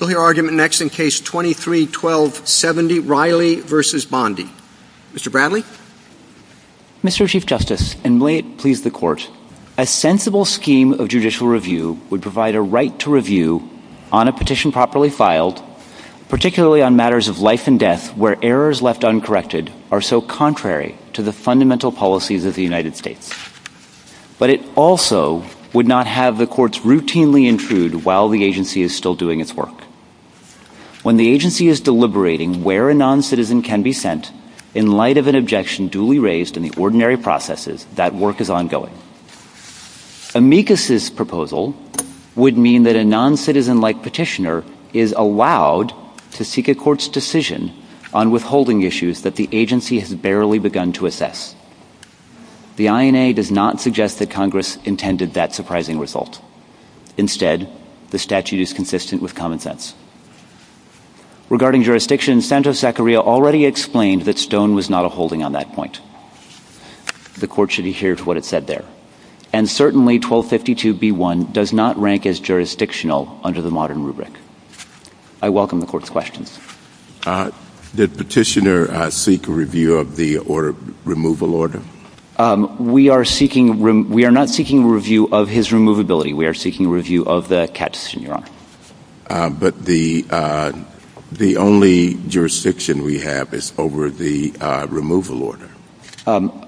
You'll hear argument next in Case 23-12-70, Riley v. Bondi. Mr. Bradley? Mr. Chief Justice, and may it please the Court, a sensible scheme of judicial review would provide a right to review on a petition properly filed, particularly on matters of life and death where errors left uncorrected are so contrary to the fundamental policies of the United States. But it also would not have the courts routinely intrude while the agency is still doing its work. When the agency is deliberating where a noncitizen can be sent, in light of an objection duly raised in the ordinary processes, that work is ongoing. Amicus' proposal would mean that a noncitizen-like petitioner is allowed to seek a court's decision on withholding issues that the agency has barely begun to assess. The INA does not suggest that Congress intended that surprising result. Instead, the statute is consistent with common sense. Regarding jurisdiction, Santos-Zacharia already explained that Stone was not a holding on that point. The Court should adhere to what it said there. And certainly 1252b1 does not rank as jurisdictional under the modern rubric. I welcome the Court's questions. Did Petitioner seek a review of the removal order? We are not seeking a review of his removability. We are seeking a review of the CAT decision, Your Honor. But the only jurisdiction we have is over the removal order.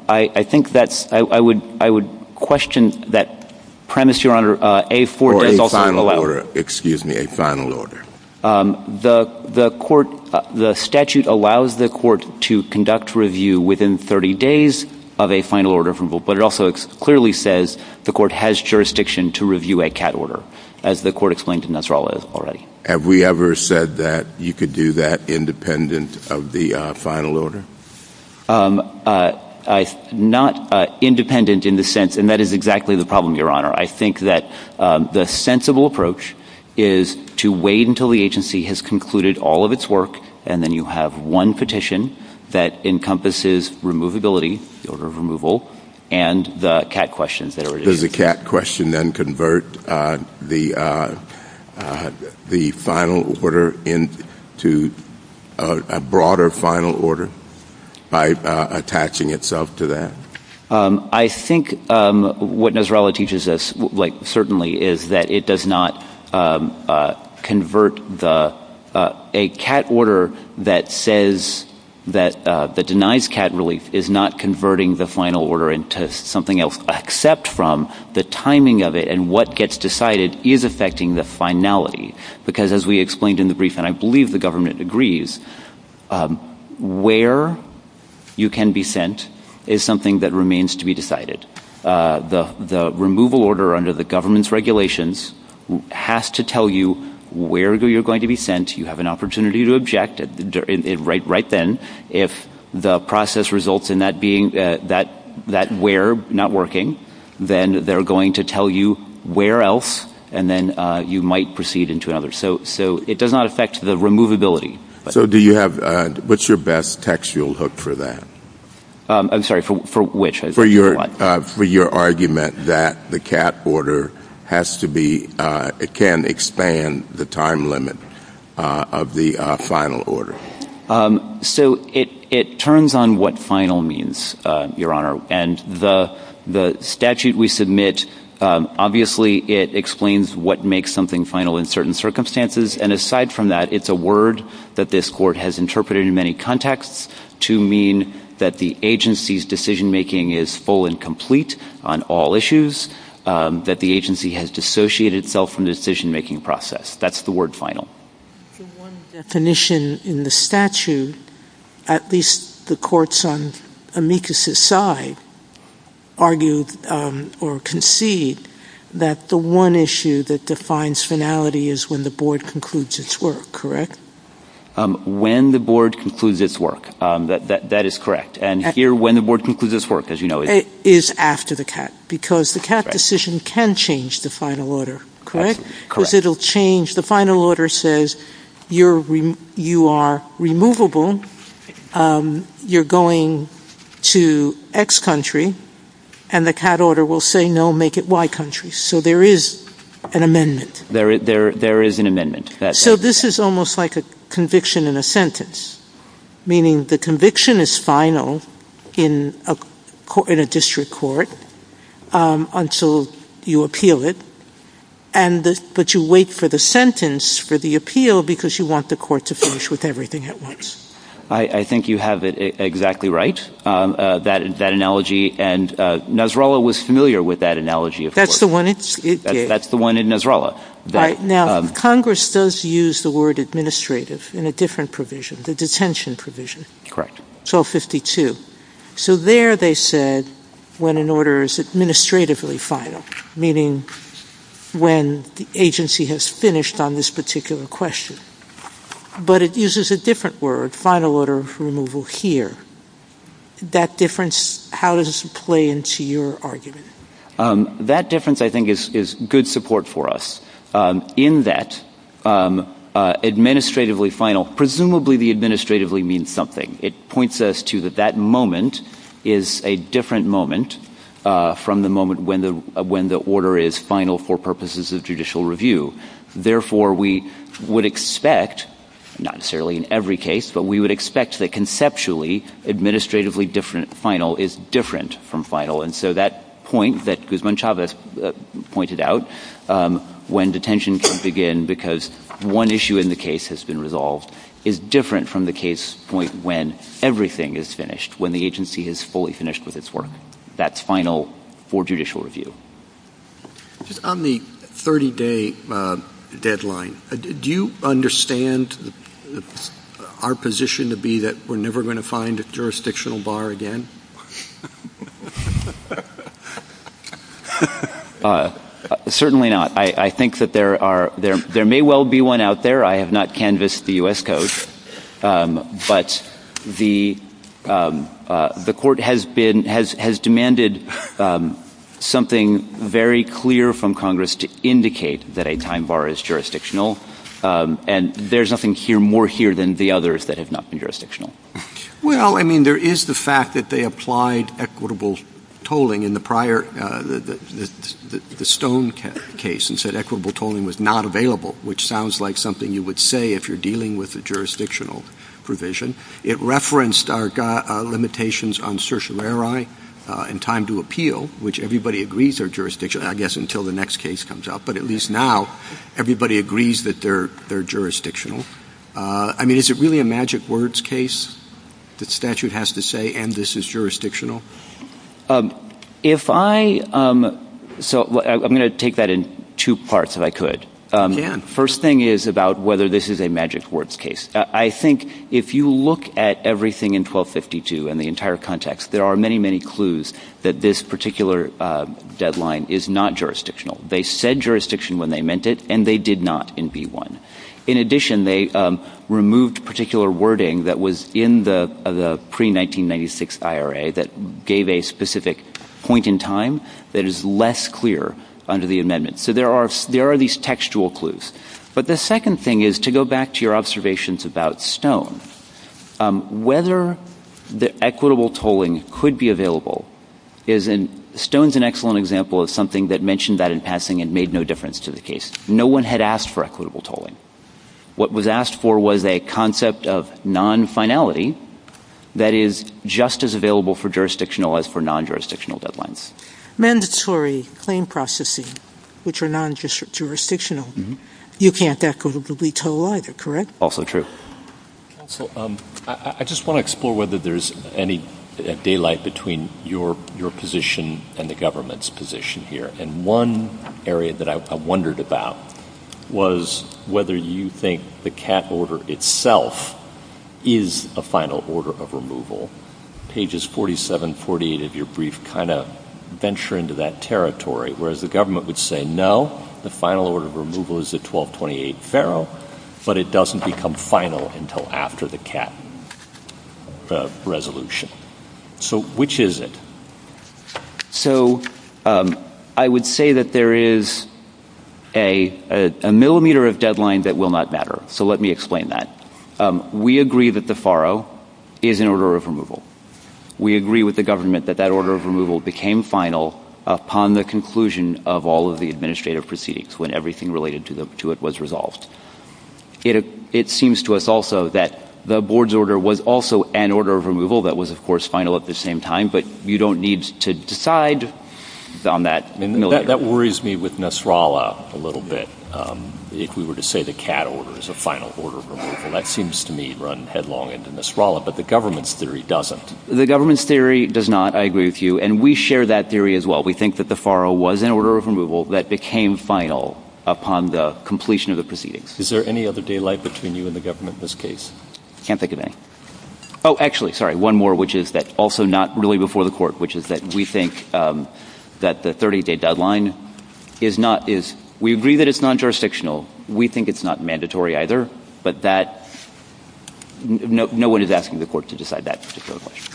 I think that's – I would question that premise, Your Honor. Or a final order, excuse me, a final order. The court – the statute allows the court to conduct review within 30 days of a final order removal. But it also clearly says the court has jurisdiction to review a CAT order, as the court explained to Nasrallah already. Have we ever said that you could do that independent of the final order? Not independent in the sense – and that is exactly the problem, Your Honor. I think that the sensible approach is to wait until the agency has concluded all of its work, and then you have one petition that encompasses removability, the order of removal, and the CAT questions. Does the CAT question then convert the final order into a broader final order by attaching itself to that? I think what Nasrallah teaches us, like certainly, is that it does not convert the – a CAT order that says that – that denies CAT relief is not converting the final order into something else, except from the timing of it and what gets decided is affecting the finality. Because as we explained in the brief, and I believe the government agrees, where you can be sent is something that remains to be decided. The removal order under the government's regulations has to tell you where you're going to be sent. You have an opportunity to object right then. If the process results in that being – that where not working, then they're going to tell you where else, and then you might proceed into another. So it does not affect the removability. So do you have – what's your best textual hook for that? I'm sorry, for which? For your argument that the CAT order has to be – it can expand the time limit of the final order. So it turns on what final means, Your Honor, and the statute we submit, obviously it explains what makes something final in certain circumstances, and aside from that, it's a word that this Court has interpreted in many contexts to mean that the agency's decision-making is full and complete on all issues, that the agency has dissociated itself from the decision-making process. That's the word final. One definition in the statute, at least the courts on amicus' side, argue or concede that the one issue that defines finality is when the Board concludes its work, correct? When the Board concludes its work. That is correct. And here, when the Board concludes its work, as you know, is – Is after the CAT, because the CAT decision can change the final order, correct? Correct. Because it will change – the final order says you are removable, you're going to X country, and the CAT order will say no, make it Y country. So there is an amendment. There is an amendment. So this is almost like a conviction in a sentence, meaning the conviction is final in a district court until you appeal it, but you wait for the sentence for the appeal because you want the court to finish with everything at once. I think you have it exactly right, that analogy. And Nasrallah was familiar with that analogy, of course. That's the one it gave. That's the one in Nasrallah. Now, Congress does use the word administrative in a different provision, the detention provision. Correct. So there they said when an order is administratively final, meaning when the agency has finished on this particular question. But it uses a different word, final order removal, here. That difference, how does it play into your argument? That difference, I think, is good support for us. In that, administratively final, presumably the administratively means something. It points us to that that moment is a different moment from the moment when the order is final for purposes of judicial review. Therefore, we would expect, not necessarily in every case, but we would expect that conceptually administratively final is different from final. And so that point that Guzman-Chavez pointed out, when detention can begin because one issue in the case has been resolved, is different from the case point when everything is finished, when the agency is fully finished with its work. That's final for judicial review. On the 30-day deadline, do you understand our position to be that we're never going to find a jurisdictional bar again? Certainly not. I think that there may well be one out there. I have not canvassed the U.S. Code, but the court has been, has demanded something very clear from Congress to indicate that a time bar is jurisdictional. And there's nothing more here than the others that have not been jurisdictional. Well, I mean, there is the fact that they applied equitable tolling in the prior, the Stone case and said equitable tolling was not available, which sounds like something you would say if you're dealing with a jurisdictional provision. It referenced our limitations on certiorari and time to appeal, which everybody agrees are jurisdictional, I guess, until the next case comes out. But at least now everybody agrees that they're jurisdictional. I mean, is it really a magic words case that statute has to say, and this is jurisdictional? If I, so I'm going to take that in two parts if I could. First thing is about whether this is a magic words case. I think if you look at everything in 1252 and the entire context, there are many, many clues that this particular deadline is not jurisdictional. They said jurisdiction when they meant it, and they did not in B-1. In addition, they removed particular wording that was in the pre-1996 IRA that gave a specific point in time that is less clear under the amendment. So there are these textual clues. But the second thing is to go back to your observations about Stone. Whether the equitable tolling could be available is in, Stone's an excellent example of something that mentioned that in passing and made no difference to the case. No one had asked for equitable tolling. What was asked for was a concept of non-finality that is just as available for jurisdictional as for non-jurisdictional deadlines. Mandatory claim processing, which are non-jurisdictional, you can't equitably toll either, correct? Also true. Counsel, I just want to explore whether there's any daylight between your position and the government's position here. And one area that I wondered about was whether you think the CAT order itself is a final order of removal. Pages 47, 48 of your brief kind of venture into that territory, whereas the government would say no, the final order of removal is the 1228 FARO, but it doesn't become final until after the CAT resolution. So which is it? So I would say that there is a millimeter of deadline that will not matter. So let me explain that. We agree that the FARO is an order of removal. We agree with the government that that order of removal became final upon the conclusion of all of the administrative proceedings, when everything related to it was resolved. It seems to us also that the board's order was also an order of removal that was, of course, final at the same time, but you don't need to decide on that. That worries me with Nasrallah a little bit. If we were to say the CAT order is a final order of removal, that seems to me to run headlong into Nasrallah, but the government's theory doesn't. The government's theory does not, I agree with you, and we share that theory as well. We think that the FARO was an order of removal that became final upon the completion of the proceedings. Is there any other daylight between you and the government in this case? I can't think of any. Oh, actually, sorry, one more, which is that also not really before the court, which is that we think that the 30-day deadline is not, is, we agree that it's non-jurisdictional. We think it's not mandatory either, but that, no one is asking the court to decide that particular question.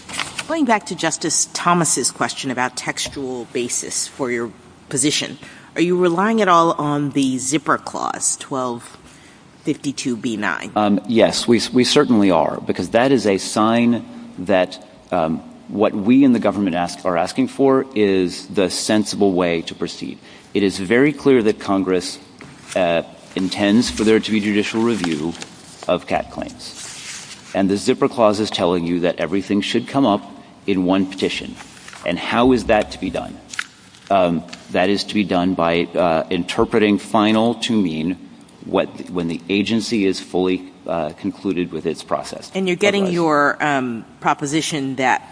Going back to Justice Thomas' question about textual basis for your position, are you relying at all on the zipper clause, 1252B9? Yes, we certainly are, because that is a sign that what we in the government are asking for is the sensible way to proceed. It is very clear that Congress intends for there to be judicial review of CAT claims, and the zipper clause is telling you that everything should come up in one petition. And how is that to be done? That is to be done by interpreting final to mean when the agency is fully concluded with its process. And you're getting your proposition that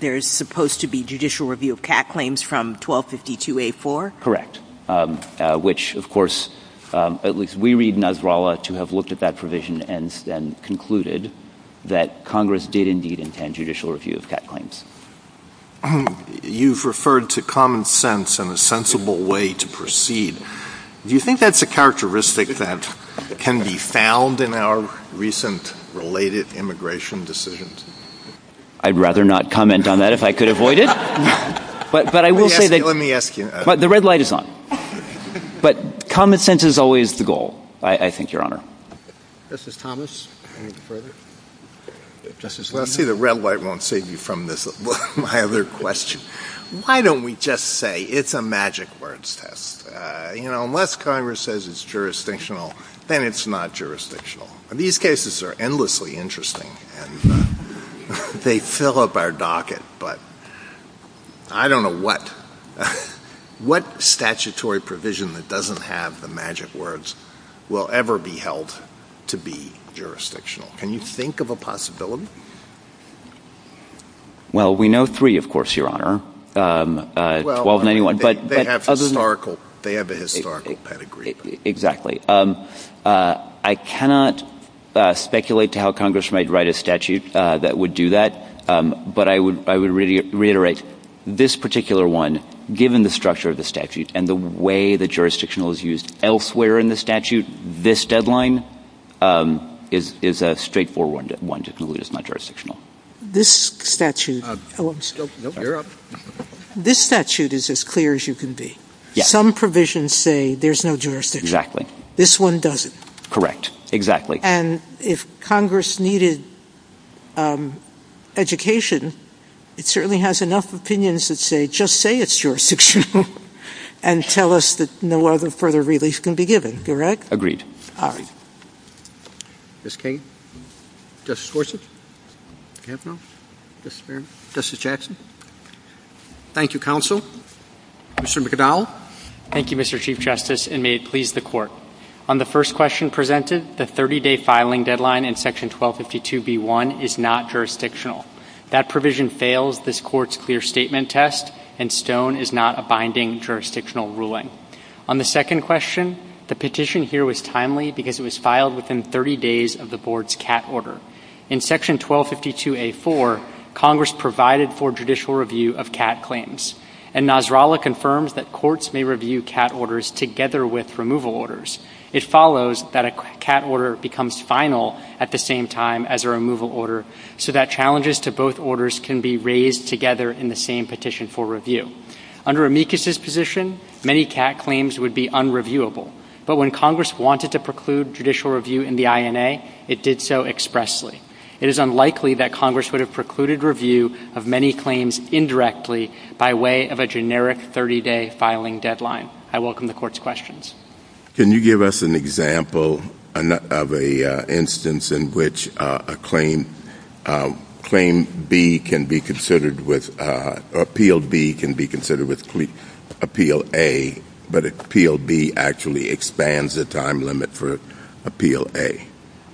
there's supposed to be judicial review of CAT claims from 1252A4? Correct. Which, of course, at least we read Nasrallah to have looked at that provision and concluded that Congress did indeed intend judicial review of CAT claims. You've referred to common sense and a sensible way to proceed. Do you think that's a characteristic that can be found in our recent related immigration decisions? I'd rather not comment on that if I could avoid it. Let me ask you. The red light is on. But common sense is always the goal, I think, Your Honor. Justice Thomas, anything further? Well, I see the red light won't save you from my other question. Why don't we just say it's a magic words test? You know, unless Congress says it's jurisdictional, then it's not jurisdictional. These cases are endlessly interesting, and they fill up our docket. But I don't know what statutory provision that doesn't have the magic words will ever be held to be jurisdictional. Can you think of a possibility? Well, we know three, of course, Your Honor, 1291. They have a historical pedigree. Exactly. I cannot speculate to how Congress might write a statute that would do that, but I would reiterate this particular one, given the structure of the statute and the way the jurisdictional is used elsewhere in the statute, this deadline is a straightforward one to conclude it's not jurisdictional. This statute is as clear as you can be. Some provisions say there's no jurisdiction. This one doesn't. Correct. Exactly. And if Congress needed education, it certainly has enough opinions that say just say it's jurisdictional and tell us that no other further relief can be given, correct? Agreed. All right. Ms. Kagan? Justice Gorsuch? Do we have no? Justice Berman? Justice Jackson? Thank you, counsel. Mr. McDowell? Thank you, Mr. Chief Justice, and may it please the Court. On the first question presented, the 30-day filing deadline in Section 1252b1 is not jurisdictional. That provision fails this Court's clear statement test, and Stone is not a binding jurisdictional ruling. On the second question, the petition here was timely because it was filed within 30 days of the Board's CAT order. In Section 1252a4, Congress provided for judicial review of CAT claims, and Nasrallah confirms that courts may review CAT orders together with removal orders. It follows that a CAT order becomes final at the same time as a removal order, so that challenges to both orders can be raised together in the same petition for review. Under Amicus's position, many CAT claims would be unreviewable, but when Congress wanted to preclude judicial review in the INA, it did so expressly. It is unlikely that Congress would have precluded review of many claims indirectly by way of a generic 30-day filing deadline. I welcome the Court's questions. Can you give us an example of an instance in which a claim B can be considered with, or Appeal B can be considered with Appeal A, but Appeal B actually expands the time limit for Appeal A?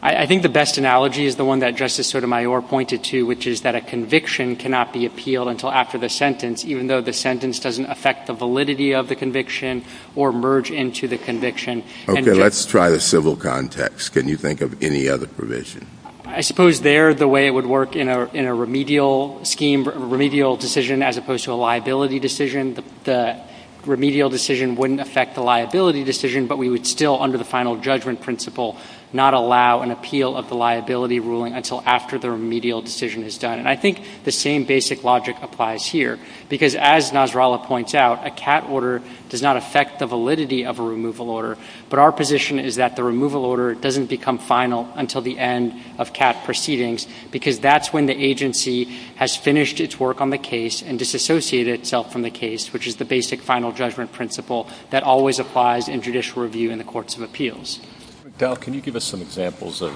I think the best analogy is the one that Justice Sotomayor pointed to, which is that a conviction cannot be appealed until after the sentence, even though the sentence doesn't affect the validity of the conviction or merge into the conviction. Okay, let's try the civil context. Can you think of any other provision? I suppose there, the way it would work in a remedial scheme, remedial decision as opposed to a liability decision, the remedial decision wouldn't affect the liability decision, but we would still, under the final judgment principle, not allow an appeal of the liability ruling until after the remedial decision is done. And I think the same basic logic applies here, because as Nasrallah points out, a CAT order does not affect the validity of a removal order, but our position is that the removal order doesn't become final until the end of CAT proceedings, because that's when the agency has finished its work on the case and disassociated itself from the case, which is the basic final judgment principle that always applies in judicial review in the courts of appeals. Mr. McDowell, can you give us some examples of,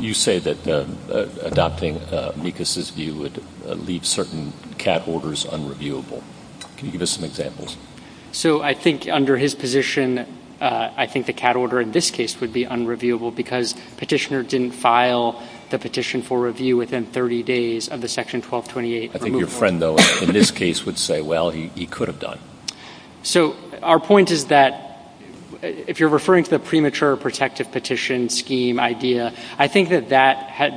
you say that adopting Mikas' view would leave certain CAT orders unreviewable. Can you give us some examples? So I think under his position, I think the CAT order in this case would be unreviewable, because Petitioner didn't file the petition for review within 30 days of the Section 1228 removal order. I think your friend, though, in this case would say, well, he could have done. So our point is that if you're referring to the premature protective petition scheme idea, I think that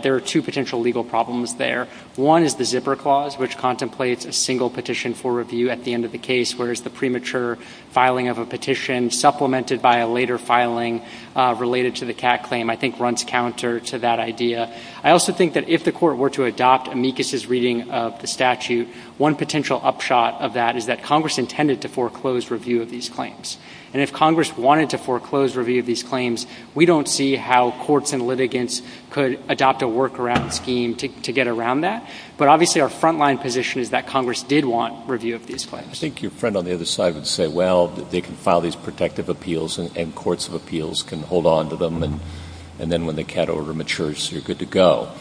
there are two potential legal problems there. One is the zipper clause, which contemplates a single petition for review at the end of the case, whereas the premature filing of a petition supplemented by a later filing related to the CAT claim, I think runs counter to that idea. I also think that if the Court were to adopt Mikas' reading of the statute, one potential upshot of that is that Congress intended to foreclose review of these claims. And if Congress wanted to foreclose review of these claims, we don't see how courts and litigants could adopt a workaround scheme to get around that. But obviously our frontline position is that Congress did want review of these claims. I think your friend on the other side would say, well, they can file these protective appeals and courts of appeals can hold on to them, and then when the CAT order matures, you're good to go.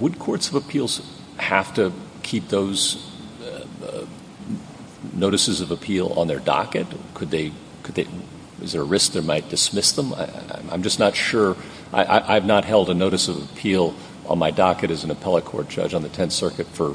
Would courts of appeals have to keep those notices of appeal on their docket? Is there a risk they might dismiss them? I'm just not sure. I've not held a notice of appeal on my docket as an appellate court judge on the Tenth Circuit for,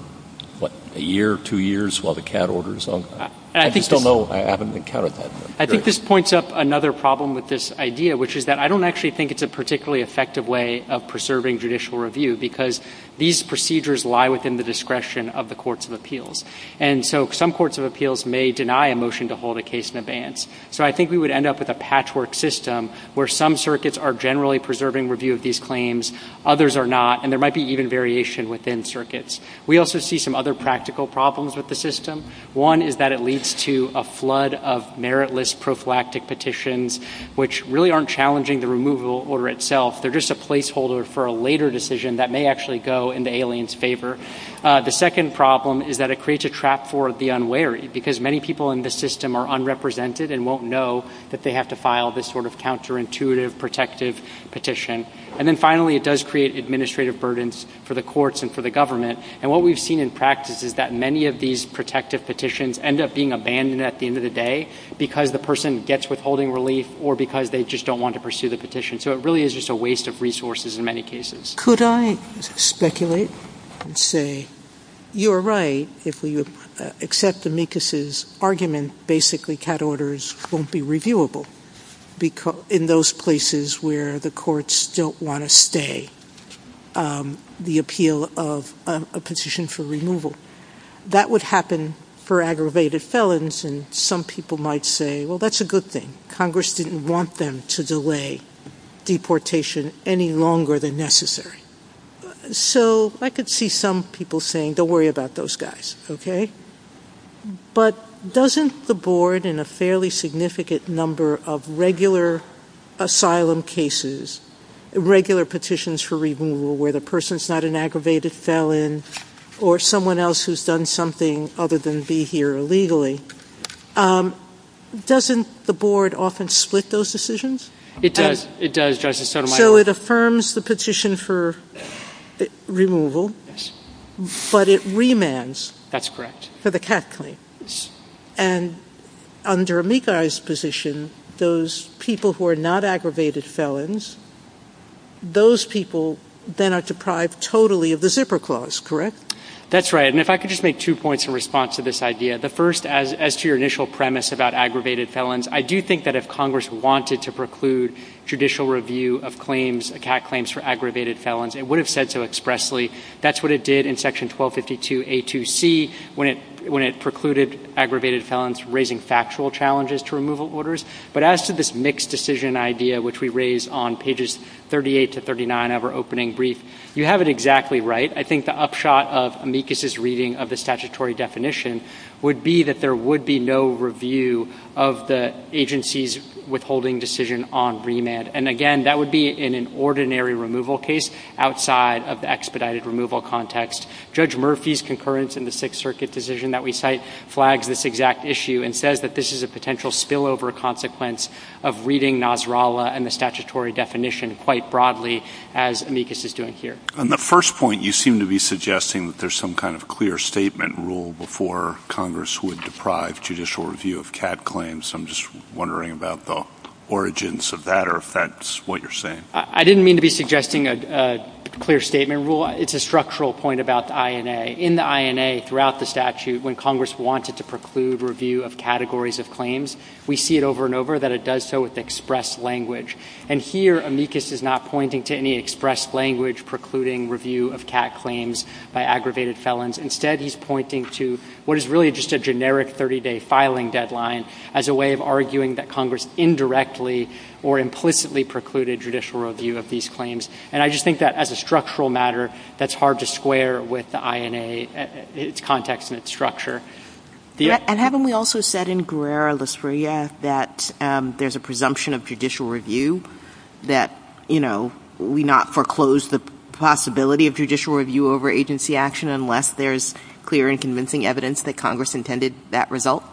what, a year, two years while the CAT order is ongoing. I just don't know. I haven't encountered that. I think this points up another problem with this idea, which is that I don't actually think it's a particularly effective way of preserving judicial review because these procedures lie within the discretion of the courts of appeals. And so some courts of appeals may deny a motion to hold a case in advance. So I think we would end up with a patchwork system where some circuits are generally preserving review of these claims, others are not, and there might be even variation within circuits. We also see some other practical problems with the system. One is that it leads to a flood of meritless prophylactic petitions, which really aren't challenging the removal order itself. They're just a placeholder for a later decision that may actually go in the alien's favor. The second problem is that it creates a trap for the unwary, because many people in the system are unrepresented and won't know that they have to file this sort of counterintuitive protective petition. And then, finally, it does create administrative burdens for the courts and for the government. And what we've seen in practice is that many of these protective petitions end up being abandoned at the end of the day because the person gets withholding relief or because they just don't want to pursue the petition. So it really is just a waste of resources in many cases. Could I speculate and say, you're right, if we accept Amicus's argument, basically CAT orders won't be reviewable in those places where the courts don't want to stay. The appeal of a petition for removal, that would happen for aggravated felons, and some people might say, well, that's a good thing. Congress didn't want them to delay deportation any longer than necessary. So I could see some people saying, don't worry about those guys, okay? But doesn't the board, in a fairly significant number of regular asylum cases, regular petitions for removal where the person's not an aggravated felon or someone else who's done something other than be here illegally, doesn't the board often split those decisions? It does. It does, Justice Sotomayor. So it affirms the petition for removal. Yes. But it remands. That's correct. For the CAT claim. Yes. And under Amicus's position, those people who are not aggravated felons, those people then are deprived totally of the zipper clause, correct? That's right. And if I could just make two points in response to this idea. The first, as to your initial premise about aggravated felons, I do think that if Congress wanted to preclude judicial review of CAT claims for aggravated felons, it would have said so expressly. That's what it did in Section 1252A2C when it precluded aggravated felons, raising factual challenges to removal orders. But as to this mixed decision idea, which we raise on pages 38 to 39 of our opening brief, you have it exactly right. I think the upshot of Amicus's reading of the statutory definition would be that there would be no review of the agency's withholding decision on remand. And again, that would be in an ordinary removal case outside of the expedited removal context. Judge Murphy's concurrence in the Sixth Circuit decision that we cite flags this exact issue and says that this is a potential spillover consequence of reading Nasrallah and the statutory definition quite broadly, as Amicus is doing here. On the first point, you seem to be suggesting that there's some kind of clear statement rule before Congress would deprive judicial review of CAT claims. I'm just wondering about the origins of that or if that's what you're saying. I didn't mean to be suggesting a clear statement rule. It's a structural point about the INA. In the INA throughout the statute, when Congress wanted to preclude review of categories of claims, we see it over and over that it does so with express language. And here, Amicus is not pointing to any express language precluding review of CAT claims by aggravated felons. Instead, he's pointing to what is really just a generic 30-day filing deadline as a way of arguing that Congress indirectly or implicitly precluded judicial review of these claims. And I just think that as a structural matter, that's hard to square with the INA, its context and its structure. And haven't we also said in Guerrera-Lasria that there's a presumption of judicial review that, you know, we not foreclose the possibility of judicial review over agency action unless there's clear and convincing evidence that Congress intended that result?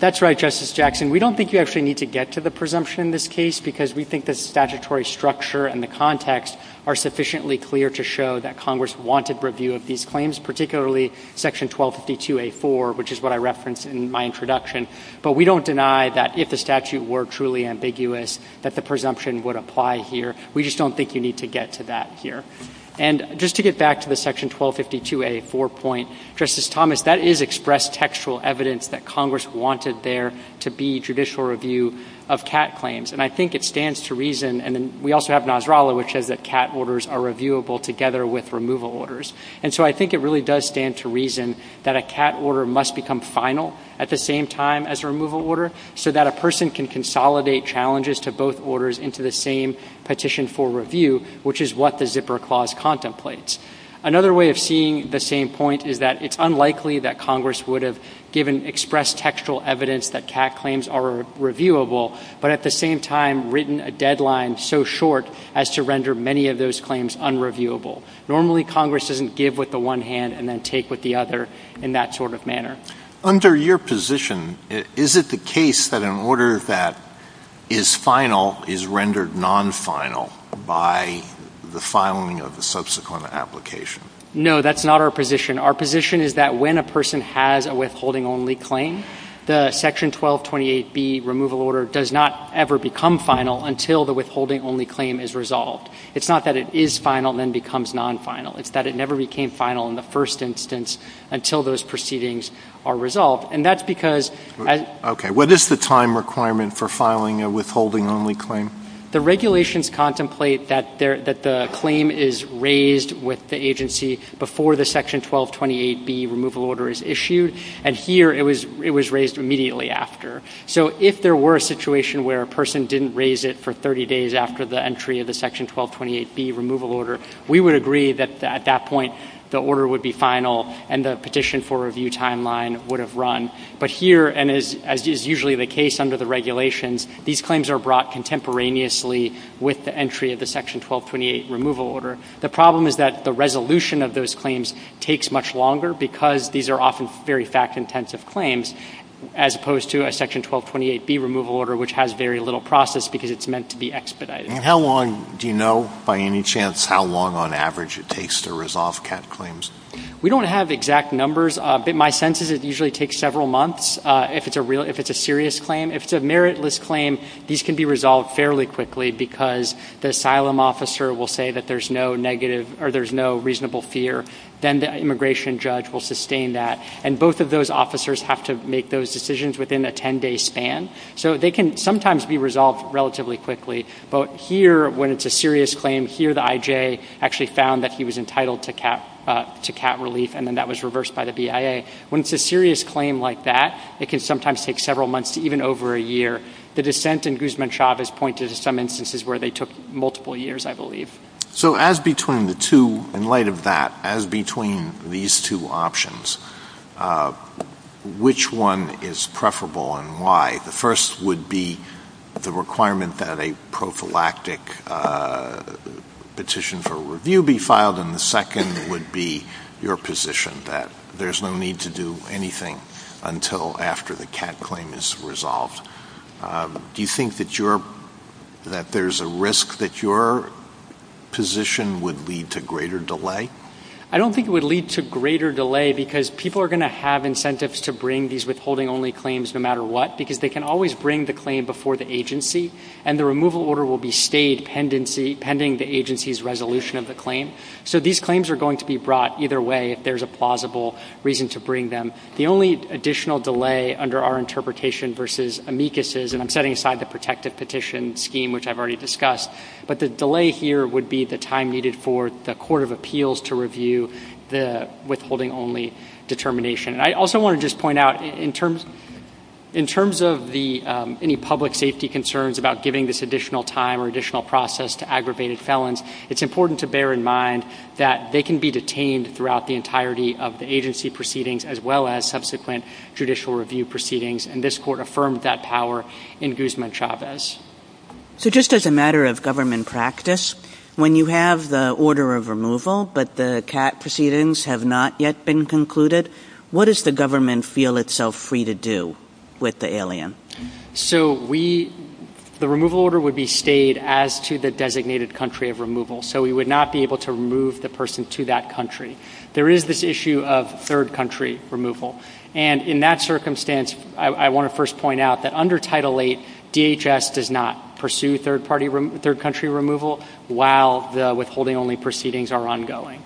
That's right, Justice Jackson. We don't think you actually need to get to the presumption in this case because we think the statutory structure and the context are sufficiently clear to show that Congress wanted review of these claims, particularly Section 1252A4, which is what I referenced in my introduction. But we don't deny that if the statute were truly ambiguous, that the presumption would apply here. We just don't think you need to get to that here. And just to get back to the Section 1252A4 point, Justice Thomas, that is expressed as textual evidence that Congress wanted there to be judicial review of CAT claims. And I think it stands to reason, and then we also have Nasrallah, which says that CAT orders are reviewable together with removal orders. And so I think it really does stand to reason that a CAT order must become final at the same time as a removal order so that a person can consolidate challenges to both orders into the same petition for review, which is what the zipper clause contemplates. Another way of seeing the same point is that it's unlikely that Congress would have given expressed textual evidence that CAT claims are reviewable, but at the same time written a deadline so short as to render many of those claims unreviewable. Normally Congress doesn't give with the one hand and then take with the other in that sort of manner. Under your position, is it the case that an order that is final is rendered non-final by the filing of the subsequent application? No, that's not our position. Our position is that when a person has a withholding-only claim, the Section 1228B removal order does not ever become final until the withholding-only claim is resolved. It's not that it is final and then becomes non-final. It's that it never became final in the first instance until those proceedings are And that's because — Okay. What is the time requirement for filing a withholding-only claim? The regulations contemplate that the claim is raised with the agency before the Section 1228B removal order is issued. And here it was raised immediately after. So if there were a situation where a person didn't raise it for 30 days after the entry of the Section 1228B removal order, we would agree that at that point the order would be final and the petition for review timeline would have run. But here, and as is usually the case under the regulations, these claims are brought contemporaneously with the entry of the Section 1228 removal order. The problem is that the resolution of those claims takes much longer because these are often very fact-intensive claims, as opposed to a Section 1228B removal order, which has very little process because it's meant to be expedited. And how long do you know, by any chance, how long on average it takes to resolve CAT claims? We don't have exact numbers, but my sense is it usually takes several months if it's a serious claim. If it's a meritless claim, these can be resolved fairly quickly because the asylum officer will say that there's no negative or there's no reasonable fear. Then the immigration judge will sustain that. And both of those officers have to make those decisions within a 10-day span. So they can sometimes be resolved relatively quickly. But here, when it's a serious claim, here the IJ actually found that he was entitled to CAT relief and then that was reversed by the BIA. When it's a serious claim like that, it can sometimes take several months to even over a year. The dissent in Guzman-Chavez pointed to some instances where they took multiple years, I believe. So in light of that, as between these two options, which one is preferable and why? The first would be the requirement that a prophylactic petition for review be filed, and the second would be your position that there's no need to do anything until after the CAT claim is resolved. Do you think that there's a risk that your position would lead to greater delay? I don't think it would lead to greater delay because people are going to have incentives to bring these withholding-only claims no matter what because they can always bring the claim before the agency, and the removal order will be stayed pending the agency's resolution of the claim. So these claims are going to be brought either way if there's a plausible reason to bring them. The only additional delay under our interpretation versus amicus' and I'm setting aside the protective petition scheme, which I've already discussed, but the delay here would be the time needed for the Court of Appeals to review the withholding-only determination. I also want to just point out in terms of any public safety concerns about giving this additional time or additional process to aggravated felons, it's important to bear in mind that they can be detained throughout the entirety of the agency proceedings as well as subsequent judicial review proceedings, and this Court affirmed that power in Guzman-Chavez. So just as a matter of government practice, when you have the order of removal but the CAT proceedings have not yet been concluded, what does the government feel itself free to do with the alien? So the removal order would be stayed as to the designated country of removal, so we would not be able to remove the person to that country. There is this issue of third-country removal, and in that circumstance I want to first point out that under Title VIII, DHS does not pursue third-country removal while the withholding-only proceedings are ongoing.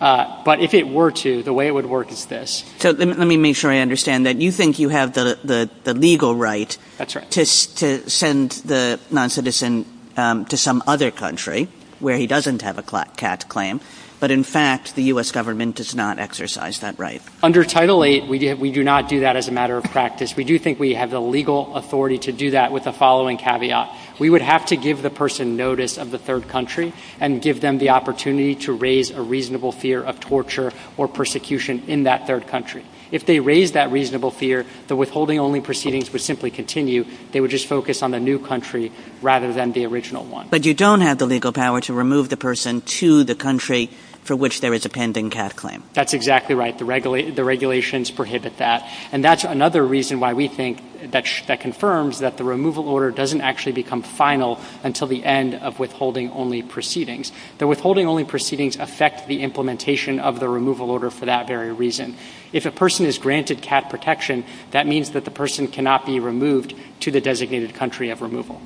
But if it were to, the way it would work is this. So let me make sure I understand that. You think you have the legal right to send the noncitizen to some other country where he doesn't have a CAT claim, but in fact the U.S. government does not exercise that right. Under Title VIII, we do not do that as a matter of practice. We do think we have the legal authority to do that with the following caveat. We would have to give the person notice of the third country and give them the opportunity to raise a reasonable fear of torture or persecution in that third country. If they raise that reasonable fear, the withholding-only proceedings would simply continue. They would just focus on the new country rather than the original one. But you don't have the legal power to remove the person to the country for which there is a pending CAT claim. That's exactly right. The regulations prohibit that, and that's another reason why we think that confirms that the removal order doesn't actually become final until the end of withholding-only proceedings. The withholding-only proceedings affect the implementation of the removal order for that very reason. If a person is granted CAT protection, that means that the person cannot be removed to the designated country of removal.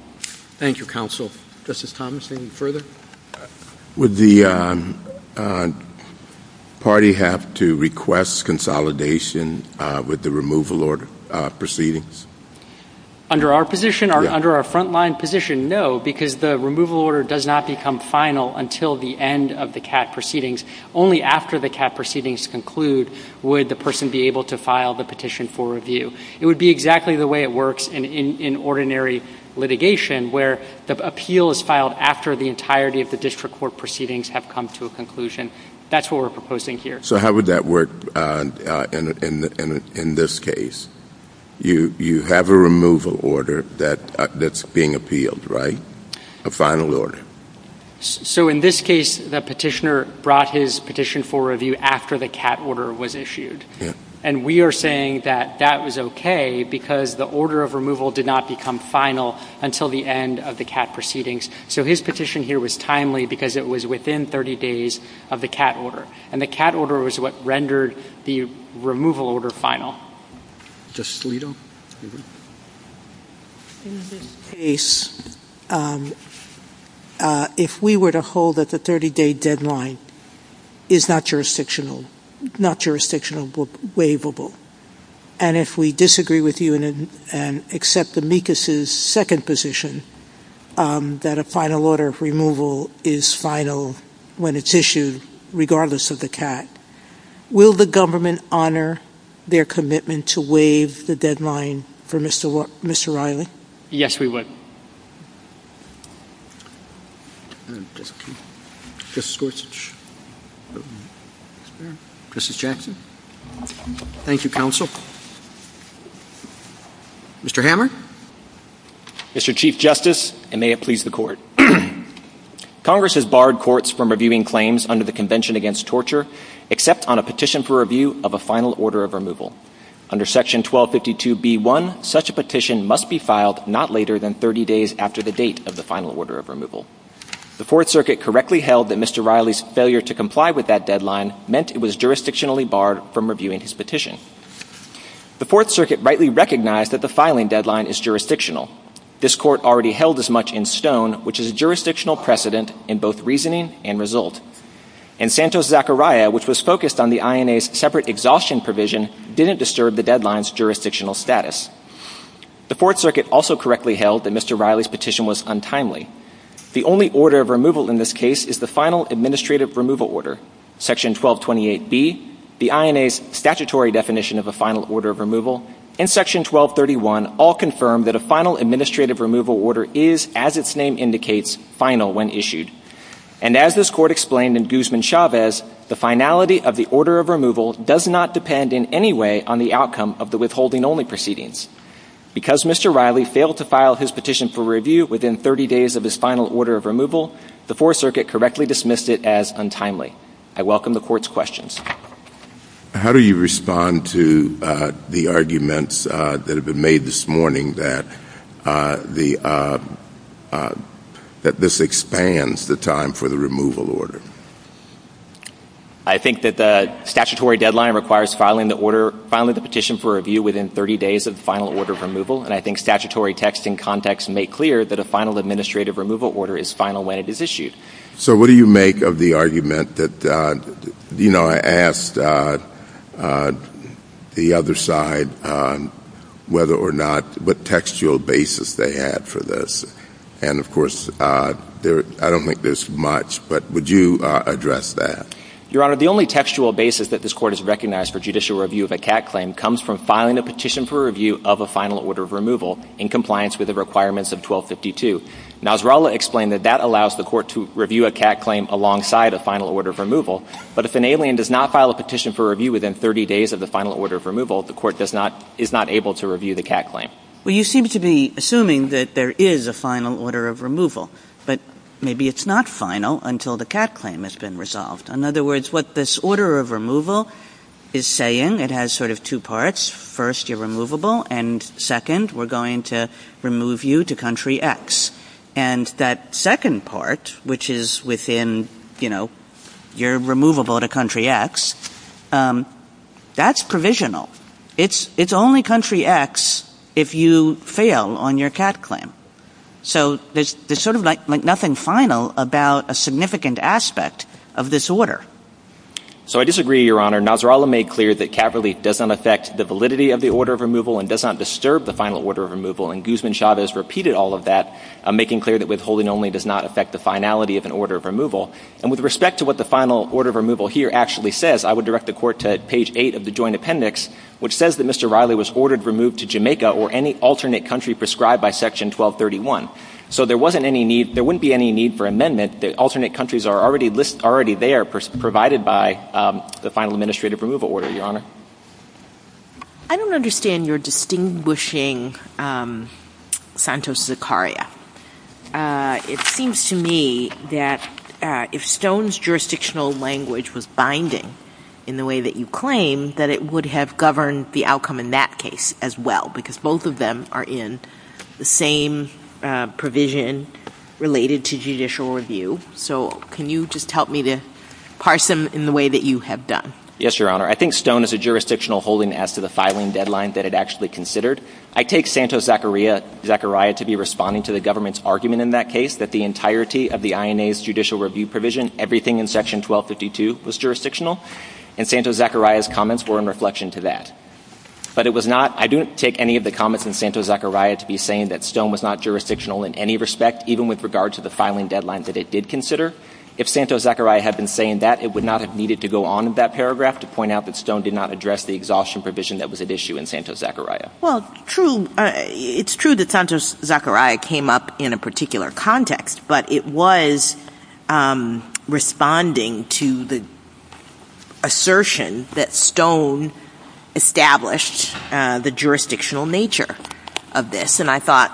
Thank you, Counsel. Justice Thomas, anything further? Would the party have to request consolidation with the removal order proceedings? Under our position, under our front-line position, no, because the removal order does not become final until the end of the CAT proceedings. Only after the CAT proceedings conclude would the person be able to file the petition for review. It would be exactly the way it works in ordinary litigation, where the appeal is filed after the entirety of the district court proceedings have come to a conclusion. That's what we're proposing here. So how would that work in this case? You have a removal order that's being appealed, right? A final order. So in this case, the petitioner brought his petition for review after the CAT order was issued. And we are saying that that was okay because the order of removal did not become final until the end of the CAT proceedings. So his petition here was timely because it was within 30 days of the CAT order. And the CAT order was what rendered the removal order final. Justice Alito? In this case, if we were to hold that the 30-day deadline is not jurisdictional, not jurisdictional but waivable, and if we disagree with you and accept the MECAS's second position, that a final order of removal is final when it's issued, regardless of the CAT, will the government honor their commitment to waive the deadline for Mr. Riley? Yes, we would. Justice Gorsuch? Justice Jackson? Thank you, counsel. Mr. Hammer? Mr. Chief Justice, and may it please the Court. Congress has barred courts from reviewing claims under the Convention Against Torture except on a petition for review of a final order of removal. Under Section 1252b1, such a petition must be filed not later than 30 days after the date of the final order of removal. The Fourth Circuit correctly held that Mr. Riley's failure to comply with that deadline meant it was jurisdictionally barred from reviewing his petition. The Fourth Circuit rightly recognized that the filing deadline is jurisdictional. This Court already held as much in Stone, which is a jurisdictional precedent in both reasoning and result. And Santos-Zachariah, which was focused on the INA's separate exhaustion provision, didn't disturb the deadline's jurisdictional status. The Fourth Circuit also correctly held that Mr. Riley's petition was untimely. The only order of removal in this case is the final administrative removal order. Section 1228b, the INA's statutory definition of a final order of removal, and Section 1231 all confirm that a final administrative removal order is, as its name indicates, final when issued. And as this Court explained in Guzman-Chavez, the finality of the order of removal does not depend in any way on the outcome of the withholding-only proceedings. Because Mr. Riley failed to file his petition for review within 30 days of his final order of removal, the Fourth Circuit correctly dismissed it as untimely. I welcome the Court's questions. How do you respond to the arguments that have been made this morning that this expands the time for the removal order? I think that the statutory deadline requires filing the petition for review within 30 days of the final order of removal, and I think statutory text and context make clear that a final administrative removal order is final when it is issued. So what do you make of the argument that, you know, I asked the other side whether or not, what textual basis they had for this? And, of course, I don't think there's much, but would you address that? Your Honor, the only textual basis that this Court has recognized for judicial review of a CAT claim comes from filing a petition for review of a final order of removal in compliance with the requirements of 1252. Nasrallah explained that that allows the Court to review a CAT claim alongside a final order of removal, but if an alien does not file a petition for review within 30 days of the final order of removal, the Court does not – is not able to review the CAT claim. Well, you seem to be assuming that there is a final order of removal, but maybe it's not final until the CAT claim has been resolved. In other words, what this order of removal is saying, it has sort of two parts. First, you're removable, and second, we're going to remove you to country X. And that second part, which is within, you know, you're removable to country X, that's provisional. It's only country X if you fail on your CAT claim. So there's sort of like nothing final about a significant aspect of this order. So I disagree, Your Honor. Nasrallah made clear that CAT relief does not affect the validity of the order of removal and does not disturb the final order of removal, and Guzman-Chavez repeated all of that, making clear that withholding only does not affect the finality of an order of removal. And with respect to what the final order of removal here actually says, I would direct the Court to page 8 of the Joint Appendix, which says that Mr. Riley was ordered removed to Jamaica or any alternate country prescribed by Section 1231. So there wasn't any need – there wouldn't be any need for amendment. The alternate countries are already there, provided by the final administrative removal order, Your Honor. I don't understand your distinguishing Santos-Zacharia. It seems to me that if Stone's jurisdictional language was binding in the way that you claim, that it would have governed the outcome in that case as well, because both of them are in the same provision related to judicial review. So can you just help me to parse them in the way that you have done? Yes, Your Honor. I think Stone is a jurisdictional holding as to the filing deadline that it actually considered. I take Santos-Zacharia to be responding to the government's argument in that case, that the entirety of the INA's judicial review provision, everything in Section 1252, was jurisdictional, and Santos-Zacharia's comments were in reflection to that. But it was not – I don't take any of the comments in Santos-Zacharia to be saying that Stone was not jurisdictional in any respect, even with regard to the filing deadline that it did consider. If Santos-Zacharia had been saying that, it would not have needed to go on in that paragraph to point out that Stone did not address the exhaustion provision that was at issue in Santos-Zacharia. Well, true – it's true that Santos-Zacharia came up in a particular context, but it was responding to the assertion that Stone established the jurisdictional nature of this. And I thought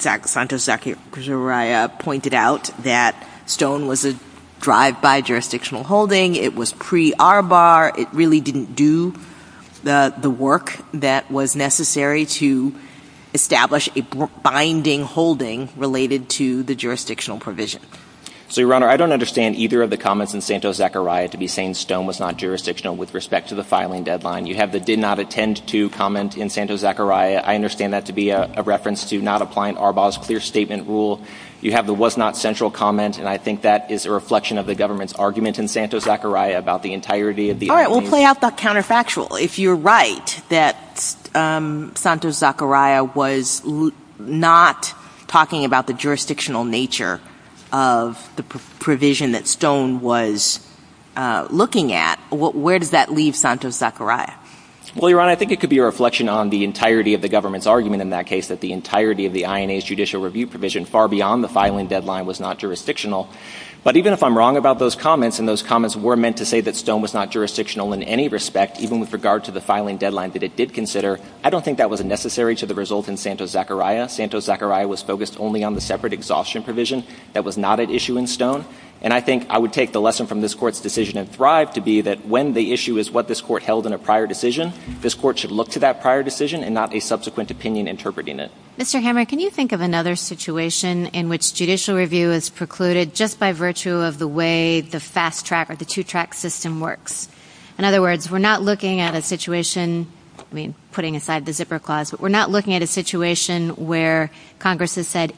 Santos-Zacharia pointed out that Stone was a drive-by jurisdictional holding. It was pre-ARBAR. It really didn't do the work that was necessary to establish a binding holding related to the jurisdictional provision. So, Your Honor, I don't understand either of the comments in Santos-Zacharia to be saying Stone was not jurisdictional with respect to the filing deadline. You have the did not attend to comment in Santos-Zacharia. I understand that to be a reference to not applying ARBAR's clear statement rule. You have the was not central comment, and I think that is a reflection of the government's argument in Santos-Zacharia about the entirety of the INA's – All right, well, play out the counterfactual. If you're right that Santos-Zacharia was not talking about the jurisdictional nature of the provision that Stone was looking at, where does that leave Santos-Zacharia? Well, Your Honor, I think it could be a reflection on the entirety of the government's argument in that case that the entirety of the INA's judicial review provision far beyond the filing deadline was not jurisdictional. But even if I'm wrong about those comments, and those comments were meant to say that Stone was not jurisdictional in any respect, even with regard to the filing deadline that it did consider, I don't think that was necessary to the result in Santos-Zacharia. Santos-Zacharia was focused only on the separate exhaustion provision that was not at issue in Stone. And I think I would take the lesson from this Court's decision in Thrive to be that when the issue is what this Court held in a prior decision, this Court should look to that prior decision and not a subsequent opinion interpreting it. Mr. Hammer, can you think of another situation in which judicial review is precluded just by virtue of the way the fast track or the two-track system works? In other words, we're not looking at a situation – I mean, putting aside the zipper clause – but we're not looking at a situation where Congress has said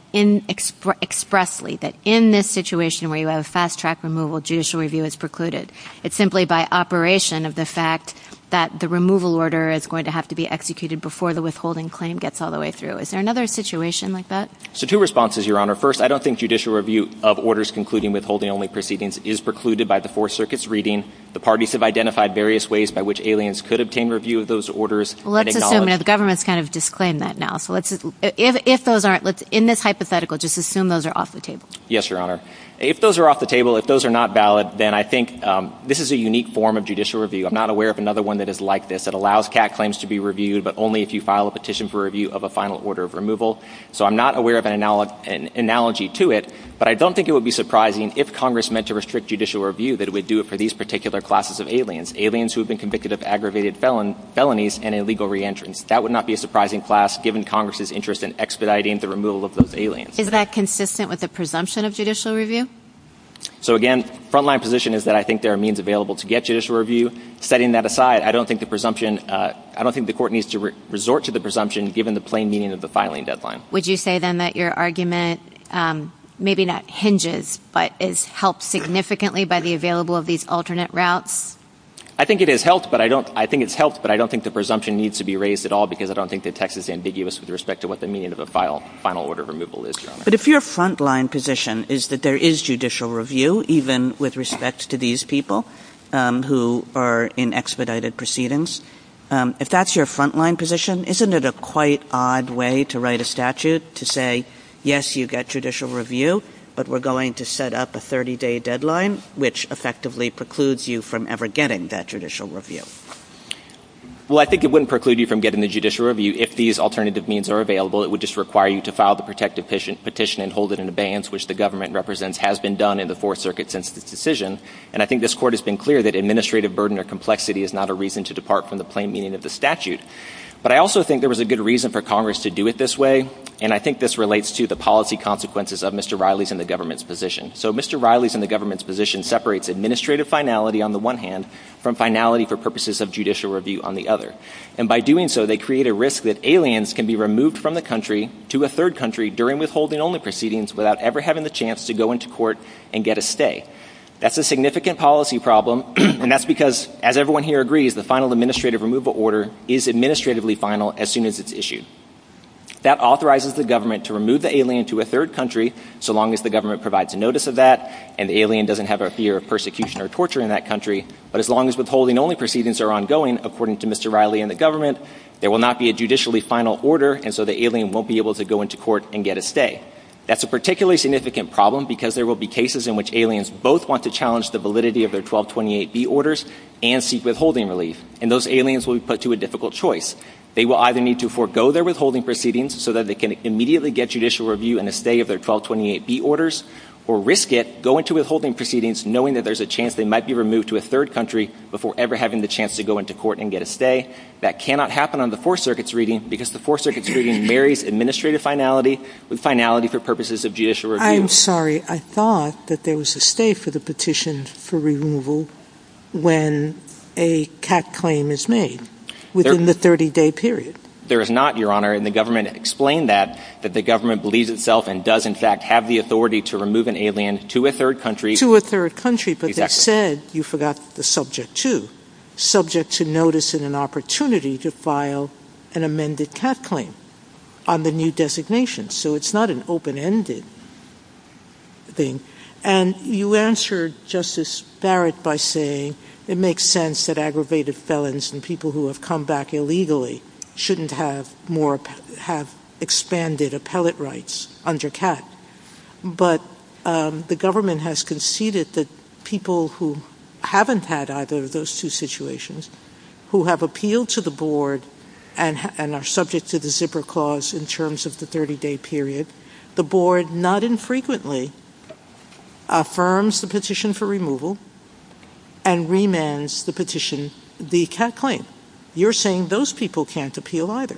expressly that in this situation where you have a fast track removal, judicial review is precluded. It's simply by operation of the fact that the removal order is going to have to be executed before the withholding claim gets all the way through. Is there another situation like that? So, two responses, Your Honor. First, I don't think judicial review of orders concluding withholding-only proceedings is precluded by the Fourth Circuit's reading. The parties have identified various ways by which aliens could obtain review of those orders and acknowledge – Well, let's assume – and the government's kind of disclaimed that now. So, let's – if those aren't – in this hypothetical, just assume those are off the table. Yes, Your Honor. If those are off the table, if those are not valid, then I think this is a unique form of judicial review. I'm not aware of another one that is like this that allows CAT claims to be reviewed but only if you file a petition for review of a final order of removal. So, I'm not aware of an analogy to it, but I don't think it would be surprising if Congress meant to restrict judicial review that it would do it for these particular classes of aliens, aliens who have been convicted of aggravated felonies and illegal reentrance. That would not be a surprising class given Congress's interest in expediting the removal of those aliens. Is that consistent with the presumption of judicial review? So, again, frontline position is that I think there are means available to get judicial review. Setting that aside, I don't think the presumption – I don't think the court needs to resort to the presumption given the plain meaning of the filing deadline. Would you say, then, that your argument maybe not hinges but is helped significantly by the available of these alternate routes? I think it is helped, but I don't – I think it's helped, but I don't think the presumption needs to be raised at all because I don't think the text is ambiguous with respect to what the meaning of a final order of removal is, Your Honor. But if your frontline position is that there is judicial review, even with respect to these people who are in expedited proceedings, if that's your frontline position, isn't it a quite odd way to write a statute to say, yes, you get judicial review, but we're going to set up a 30-day deadline, which effectively precludes you from ever getting that judicial review? Well, I think it wouldn't preclude you from getting the judicial review if these alternative means are available. It would just require you to file the protective petition and hold it in abeyance, which the government represents has been done in the Fourth Circuit since the decision. And I think this Court has been clear that administrative burden or complexity is not a reason to depart from the plain meaning of the statute. But I also think there was a good reason for Congress to do it this way, and I think this relates to the policy consequences of Mr. Riley's and the government's position. So Mr. Riley's and the government's position separates administrative finality on the one hand from finality for purposes of judicial review on the other. And by doing so, they create a risk that aliens can be removed from the country to a third country during withholding-only proceedings without ever having the chance to go into court and get a stay. That's a significant policy problem, and that's because, as everyone here agrees, the final administrative removal order is administratively final as soon as it's issued. That authorizes the government to remove the alien to a third country, so long as the government provides notice of that and the alien doesn't have a fear of persecution or torture in that country. But as long as withholding-only proceedings are ongoing, according to Mr. Riley and the government, there will not be a judicially final order, and so the alien won't be able to go into court and get a stay. That's a particularly significant problem because there will be cases in which aliens both want to challenge the validity of their 1228B orders and seek withholding relief, and those aliens will be put to a difficult choice. They will either need to forego their withholding proceedings so that they can immediately get judicial review and a stay of their 1228B orders, or risk it, go into withholding proceedings knowing that there's a chance they might be removed to a third country before ever having the chance to go into court and get a stay. That cannot happen on the Fourth Circuit's reading because the Fourth Circuit's reading marries administrative finality with finality for purposes of judicial review. I'm sorry. I thought that there was a stay for the petition for removal when a CAT claim is made within the 30-day period. There is not, Your Honor, and the government explained that, that the government believes itself and does in fact have the authority to remove an alien to a third country. To a third country, but they said, you forgot the subject to, subject to notice and an opportunity to file an amended CAT claim on the new designation, so it's not an open-ended thing. And you answered, Justice Barrett, by saying it makes sense that aggravated felons and people who have come back illegally shouldn't have more, have expanded appellate rights under CAT, but the government has conceded that people who haven't had either of those two situations, who have appealed to the board and are subject to the zipper clause in terms of the 30-day period, the board not infrequently affirms the petition for removal and remands the petition, the CAT claim. You're saying those people can't appeal either.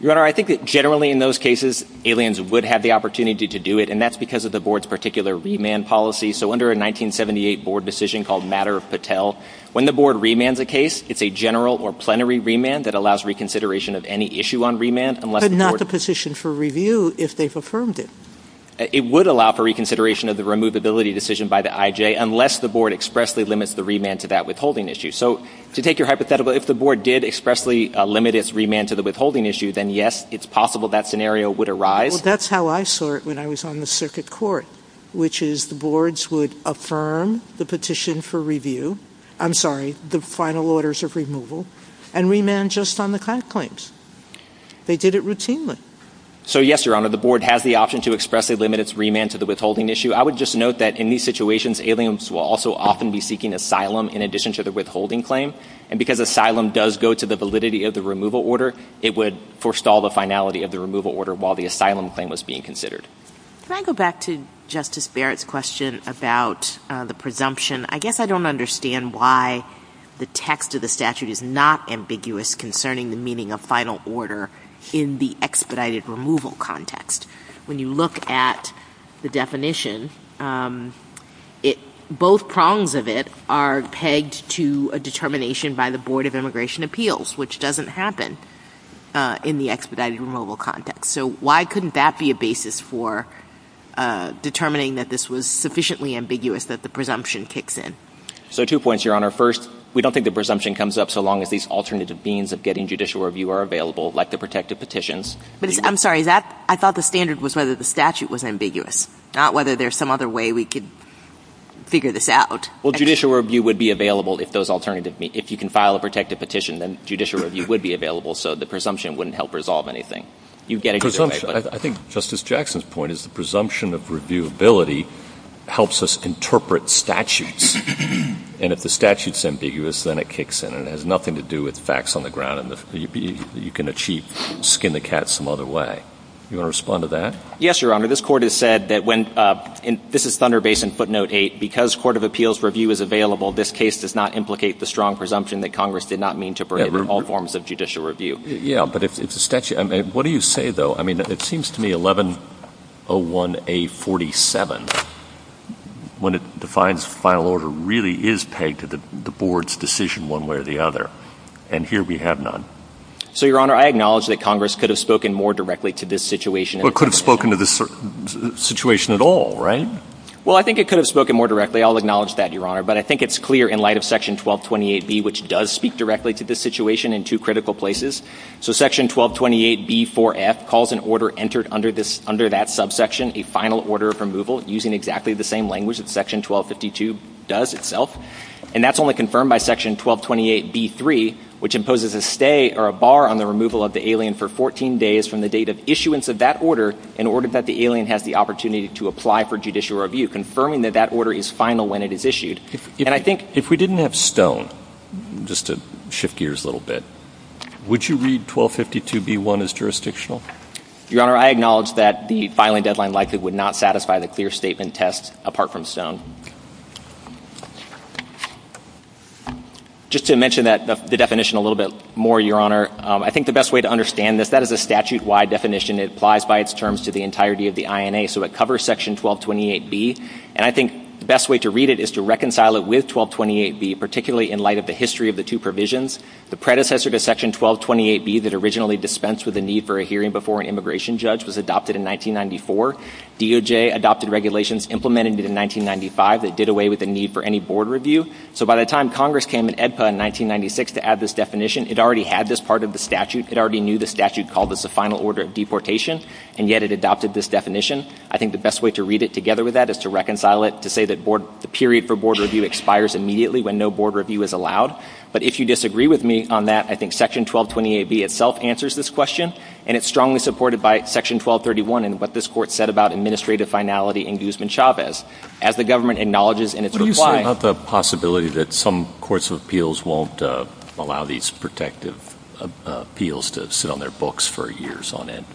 Your Honor, I think that generally in those cases, aliens would have the opportunity to do it and that's because of the board's particular remand policy. So under a 1978 board decision called Matter of Patel, when the board remands a case, it's a general or plenary remand that allows reconsideration of any issue on remand unless the board makes a petition for review if they've affirmed it. It would allow for reconsideration of the removability decision by the IJ unless the board expressly limits the remand to that withholding issue. So to take your hypothetical, if the board did expressly limit its remand to the withholding issue, then yes, it's possible that scenario would arise. Well, that's how I saw it when I was on the circuit court, which is the boards would affirm the petition for review, I'm sorry, the final orders of removal, and remand just on the CAT claims. They did it routinely. So yes, Your Honor, the board has the option to expressly limit its remand to the withholding issue. I would just note that in these situations, aliens will also often be seeking asylum in addition to the withholding claim. And because asylum does go to the validity of the removal order, it would forestall the finality of the removal order while the asylum claim was being considered. Can I go back to Justice Barrett's question about the presumption? I guess I don't understand why the text of the statute is not ambiguous concerning the meaning of final order in the expedited removal context. When you look at the definition, both prongs of it are pegged to a determination by the Board of Immigration Appeals, which doesn't happen in the expedited removal context. So why couldn't that be a basis for determining that this was sufficiently ambiguous that the presumption kicks in? So two points, Your Honor. First, we don't think the presumption comes up so long as these alternative means of getting judicial review are available, like the protective petitions. I'm sorry. I thought the standard was whether the statute was ambiguous, not whether there's some other way we could figure this out. Well, judicial review would be available if you can file a protective petition, then judicial review would be available, so the presumption wouldn't help resolve anything. You'd get a judicial review. I think Justice Jackson's point is the presumption of reviewability helps us interpret statutes, and if the statute's ambiguous, then it kicks in. It has nothing to do with facts on the ground. You can achieve skin-the-cat some other way. You want to respond to that? Yes, Your Honor. This Court has said that when — this is Thunder Basin footnote 8. Because court of appeals review is available, this case does not implicate the strong presumption that Congress did not mean to bring in all forms of judicial review. Yeah, but if the statute — what do you say, though? I mean, it seems to me 1101A47, when it defines final order, really is pegged to the board's decision one way or the other, and here we have none. So, Your Honor, I acknowledge that Congress could have spoken more directly to this situation. Well, it could have spoken to this situation at all, right? Well, I think it could have spoken more directly. I'll acknowledge that, Your Honor. But I think it's clear in light of Section 1228B, which does speak directly to this So Section 1228B4F calls an order entered under that subsection a final order of removal using exactly the same language that Section 1252 does itself. And that's only confirmed by Section 1228B3, which imposes a stay or a bar on the removal of the alien for 14 days from the date of issuance of that order in order that the alien has the opportunity to apply for judicial review, confirming that that order is final when it is issued. And I think If we didn't have Stone, just to shift gears a little bit, would you read 1252B1 as jurisdictional? Your Honor, I acknowledge that the filing deadline likely would not satisfy the clear statement test apart from Stone. Just to mention the definition a little bit more, Your Honor, I think the best way to understand this, that is a statute-wide definition. It applies by its terms to the entirety of the INA, so it covers Section 1228B. And I think the best way to read it is to reconcile it with 1228B, particularly in light of the history of the two provisions. The predecessor to Section 1228B that originally dispensed with the need for a hearing before an immigration judge was adopted in 1994. DOJ adopted regulations implemented in 1995 that did away with the need for any board review. So by the time Congress came in EDPA in 1996 to add this definition, it already had this part of the statute. It already knew the statute called this a final order of deportation, and yet it adopted this definition. I think the best way to read it together with that is to reconcile it to say that the period for board review expires immediately when no board review is allowed. But if you disagree with me on that, I think Section 1228B itself answers this question, and it's strongly supported by Section 1231 and what this Court said about administrative finality in Guzman-Chavez. As the government acknowledges in its reply — What do you say about the possibility that some courts of appeals won't allow these protective appeals to sit on their books for years on end?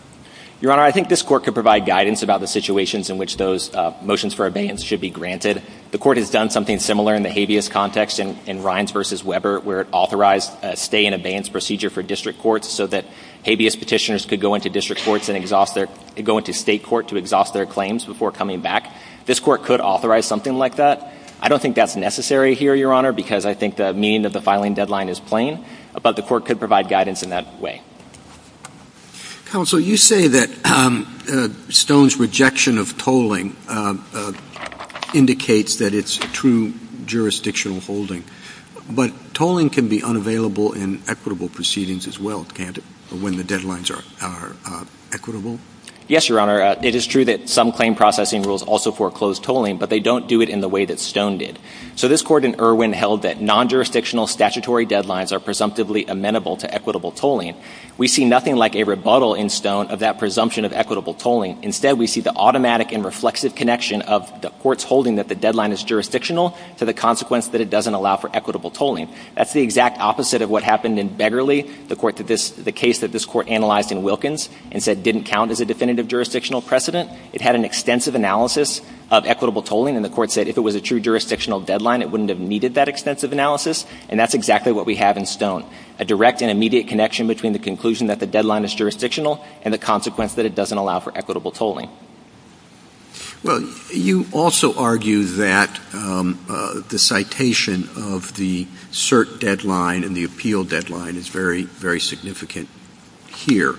Your Honor, I think this Court could provide guidance about the situations in which those motions for abeyance should be granted. The Court has done something similar in the habeas context in Rines v. Weber where it authorized a stay in abeyance procedure for district courts so that habeas petitioners could go into district courts and exhaust their — go into state court to exhaust their claims before coming back. This Court could authorize something like that. I don't think that's necessary here, Your Honor, because I think the meaning of the filing deadline is plain, but the Court could provide guidance in that way. Counsel, you say that Stone's rejection of tolling indicates that it's true jurisdictional holding, but tolling can be unavailable in equitable proceedings as well, can't it, when the deadlines are equitable? Yes, Your Honor. It is true that some claim processing rules also foreclose tolling, but they don't do it in the way that Stone did. So this Court in Irwin held that non-jurisdictional statutory deadlines are We see nothing like a rebuttal in Stone of that presumption of equitable tolling. Instead, we see the automatic and reflexive connection of the Court's holding that the deadline is jurisdictional to the consequence that it doesn't allow for equitable tolling. That's the exact opposite of what happened in Begerle, the case that this Court analyzed in Wilkins and said didn't count as a definitive jurisdictional precedent. It had an extensive analysis of equitable tolling, and the Court said if it was a true jurisdictional deadline, it wouldn't have needed that extensive analysis, and that's exactly what we have in Stone. A direct and immediate connection between the conclusion that the deadline is jurisdictional and the consequence that it doesn't allow for equitable tolling. Well, you also argue that the citation of the cert deadline and the appeal deadline is very, very significant here.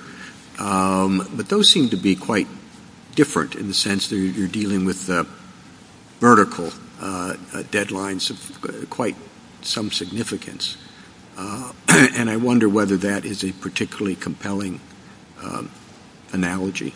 But those seem to be quite different in the sense that you're dealing with vertical deadlines of quite some significance. And I wonder whether that is a particularly compelling analogy.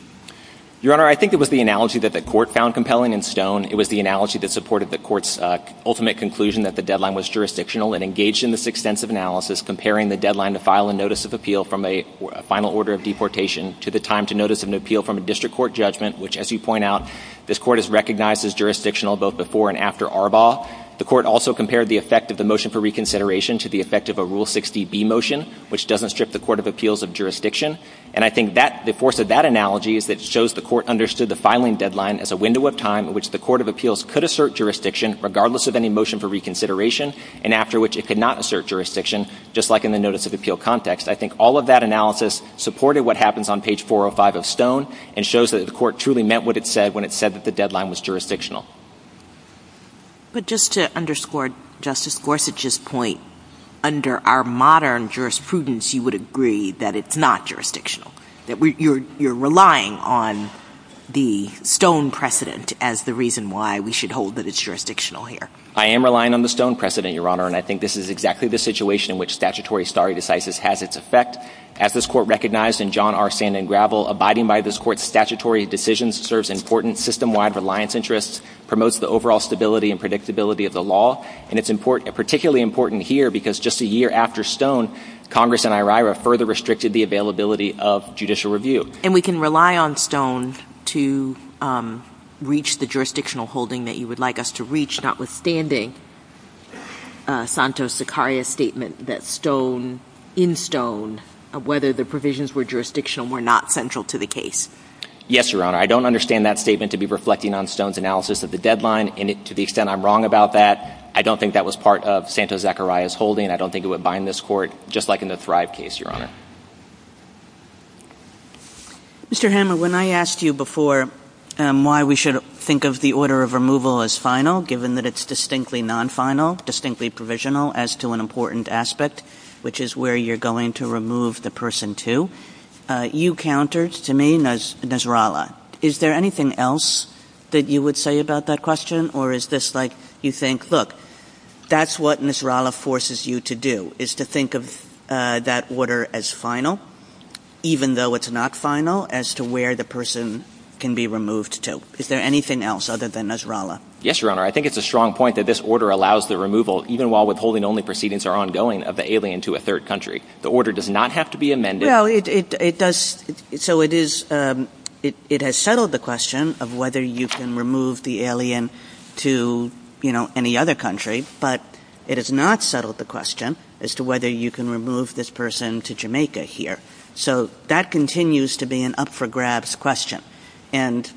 Your Honor, I think it was the analogy that the Court found compelling in Stone. It was the analogy that supported the Court's ultimate conclusion that the deadline was jurisdictional and engaged in this extensive analysis, comparing the deadline to file a notice of appeal from a final order of deportation to the time to notice of an appeal from a district court judgment, which, as you point out, this Court has recognized as jurisdictional both before and after Arbaugh. The Court also compared the effect of the motion for reconsideration to the effect of a Rule 60B motion, which doesn't strip the Court of Appeals of And I think the force of that analogy is that it shows the Court understood the filing deadline as a window of time in which the Court of Appeals could assert jurisdiction, regardless of any motion for reconsideration, and after which it could not assert jurisdiction, just like in the notice of appeal context. I think all of that analysis supported what happens on page 405 of Stone and shows that the Court truly meant what it said when it said that the deadline was jurisdictional. But just to underscore Justice Gorsuch's point, under our modern jurisprudence you would agree that it's not jurisdictional, that you're relying on the Stone precedent as the reason why we should hold that it's jurisdictional here. I am relying on the Stone precedent, Your Honor, and I think this is exactly the situation in which statutory stare decisis has its effect. As this Court recognized in John R. Sand and Gravel, abiding by this Court's stability and predictability of the law, and it's particularly important here because just a year after Stone, Congress and IRIRA further restricted the availability of judicial review. And we can rely on Stone to reach the jurisdictional holding that you would like us to reach, notwithstanding Santos-Sicario's statement that Stone, in Stone, whether the provisions were jurisdictional were not central to the case. Yes, Your Honor. I don't understand that statement to be reflecting on Stone's analysis of the deadline to the extent I'm wrong about that. I don't think that was part of Santos-Sicario's holding. I don't think it would bind this Court, just like in the Thrive case, Your Honor. Mr. Hammer, when I asked you before why we should think of the order of removal as final, given that it's distinctly non-final, distinctly provisional as to an important aspect, which is where you're going to remove the person to, you think, look, that's what Nasrallah forces you to do, is to think of that order as final, even though it's not final, as to where the person can be removed to. Is there anything else other than Nasrallah? Yes, Your Honor. I think it's a strong point that this order allows the removal, even while withholding only proceedings are ongoing, of the alien to a third country. The order does not have to be amended. Well, it does. So it has settled the question of whether you can remove the alien to, you know, any other country, but it has not settled the question as to whether you can remove this person to Jamaica here. So that continues to be an up-for-grabs question. And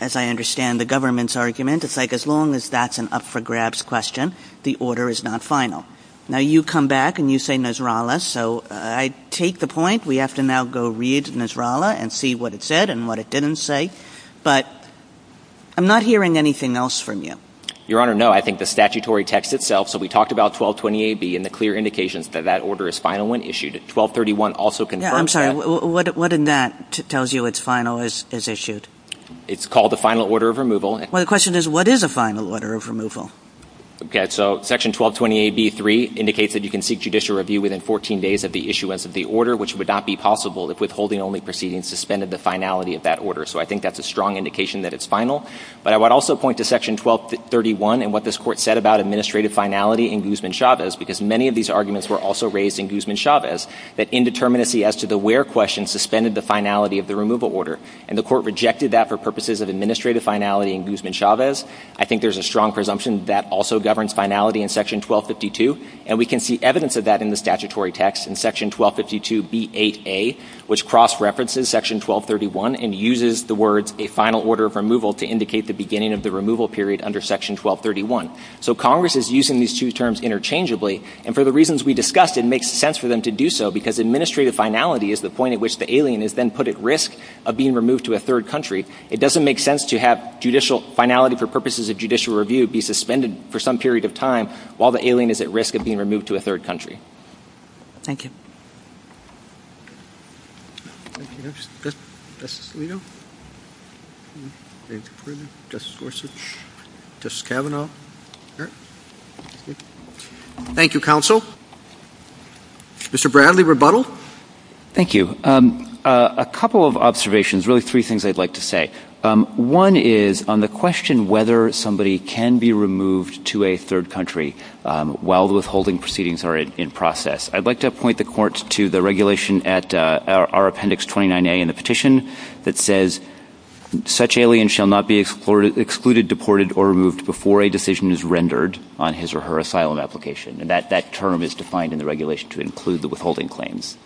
as I understand the government's argument, it's like as long as that's an up-for-grabs question, the order is not final. Now, you come back and you say Nasrallah, so I take the point. We have to now go read Nasrallah and see what it said and what it didn't say. But I'm not hearing anything else from you. Your Honor, no. I think the statutory text itself. So we talked about 1220AB and the clear indications that that order is final when issued. 1231 also confirms that. What in that tells you it's final is issued? It's called a final order of removal. Well, the question is what is a final order of removal? Okay. So Section 1220AB3 indicates that you can seek judicial review within 14 days of the issuance of the order, which would not be possible if withholding only proceedings suspended the finality of that order. So I think that's a strong indication that it's final. But I would also point to Section 1231 and what this Court said about administrative finality in Guzman-Chavez, because many of these arguments were also raised in Guzman-Chavez, that indeterminacy as to the where question suspended the finality of the removal order. And the Court rejected that for purposes of administrative finality in Guzman-Chavez. I think there's a strong presumption that also governs finality in Section 1252. And we can see evidence of that in the statutory text in Section 1252B8A, which cross-references Section 1231 and uses the words a final order of removal to indicate the beginning of the removal period under Section 1231. So Congress is using these two terms interchangeably. And for the reasons we discussed, it makes sense for them to do so, because administrative finality is the point at which the alien is then put at risk of being removed to a third country. It doesn't make sense to have judicial finality for purposes of judicial review be suspended for some period of time while the alien is at risk of being removed to a third country. Thank you. Thank you. Justice Alito? Anything further? Justice Gorsuch? Justice Kavanaugh? All right. Thank you, Counsel. Mr. Bradley, rebuttal? Thank you. A couple of observations, really three things I'd like to say. One is on the question whether somebody can be removed to a third country, and a third country while the withholding proceedings are in process. I'd like to point the Court to the regulation at our appendix 29A in the petition that says such alien shall not be excluded, deported, or removed before a decision is rendered on his or her asylum application. And that term is defined in the regulation to include the withholding claims.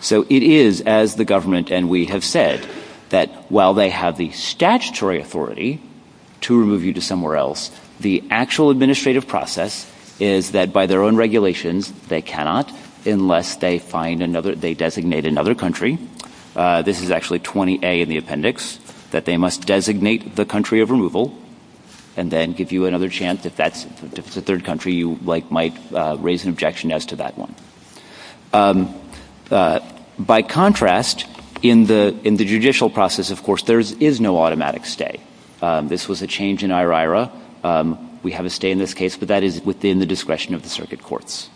So it is, as the government and we have said, that while they have the statutory authority to remove you to somewhere else, the actual administrative process is that by their own regulations they cannot unless they find another, they designate another country. This is actually 20A in the appendix, that they must designate the country of removal and then give you another chance. If that's a third country, you might raise an objection as to that one. By contrast, in the judicial process, of course, there is no automatic stay. This was a change in IRIRA. We have a stay in this case, but that is within the discretion of the circuit courts.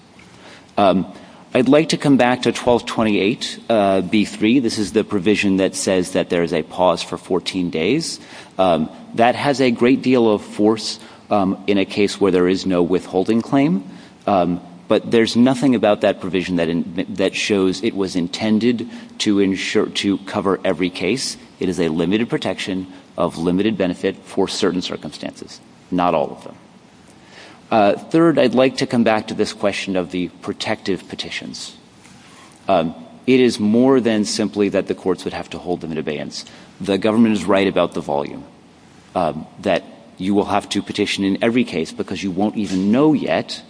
I'd like to come back to 1228B3. This is the provision that says that there is a pause for 14 days. That has a great deal of force in a case where there is no withholding claim. But there is nothing about that provision that shows it was intended to cover every case. It is a limited protection of limited benefit for certain circumstances, not all of them. Third, I'd like to come back to this question of the protective petitions. It is more than simply that the courts would have to hold them in abeyance. The government is right about the volume, that you will have to petition in every case because you won't even know yet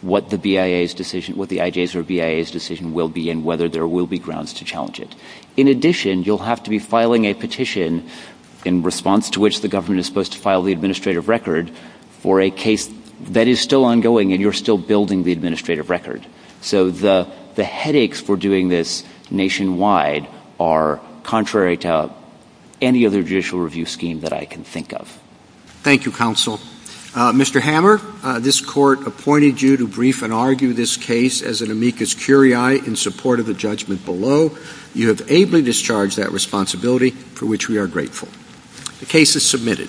what the IJ's or BIA's decision will be and whether there will be grounds to challenge it. In addition, you'll have to be filing a petition in response to which the government is supposed to file the administrative record for a case that is still ongoing and you're still building the administrative record. So the headaches for doing this nationwide are contrary to any other judicial review scheme that I can think of. Thank you, counsel. Mr. Hammer, this Court appointed you to brief and argue this case as an amicus curiae in support of the judgment below. You have ably discharged that responsibility for which we are grateful. The case is submitted.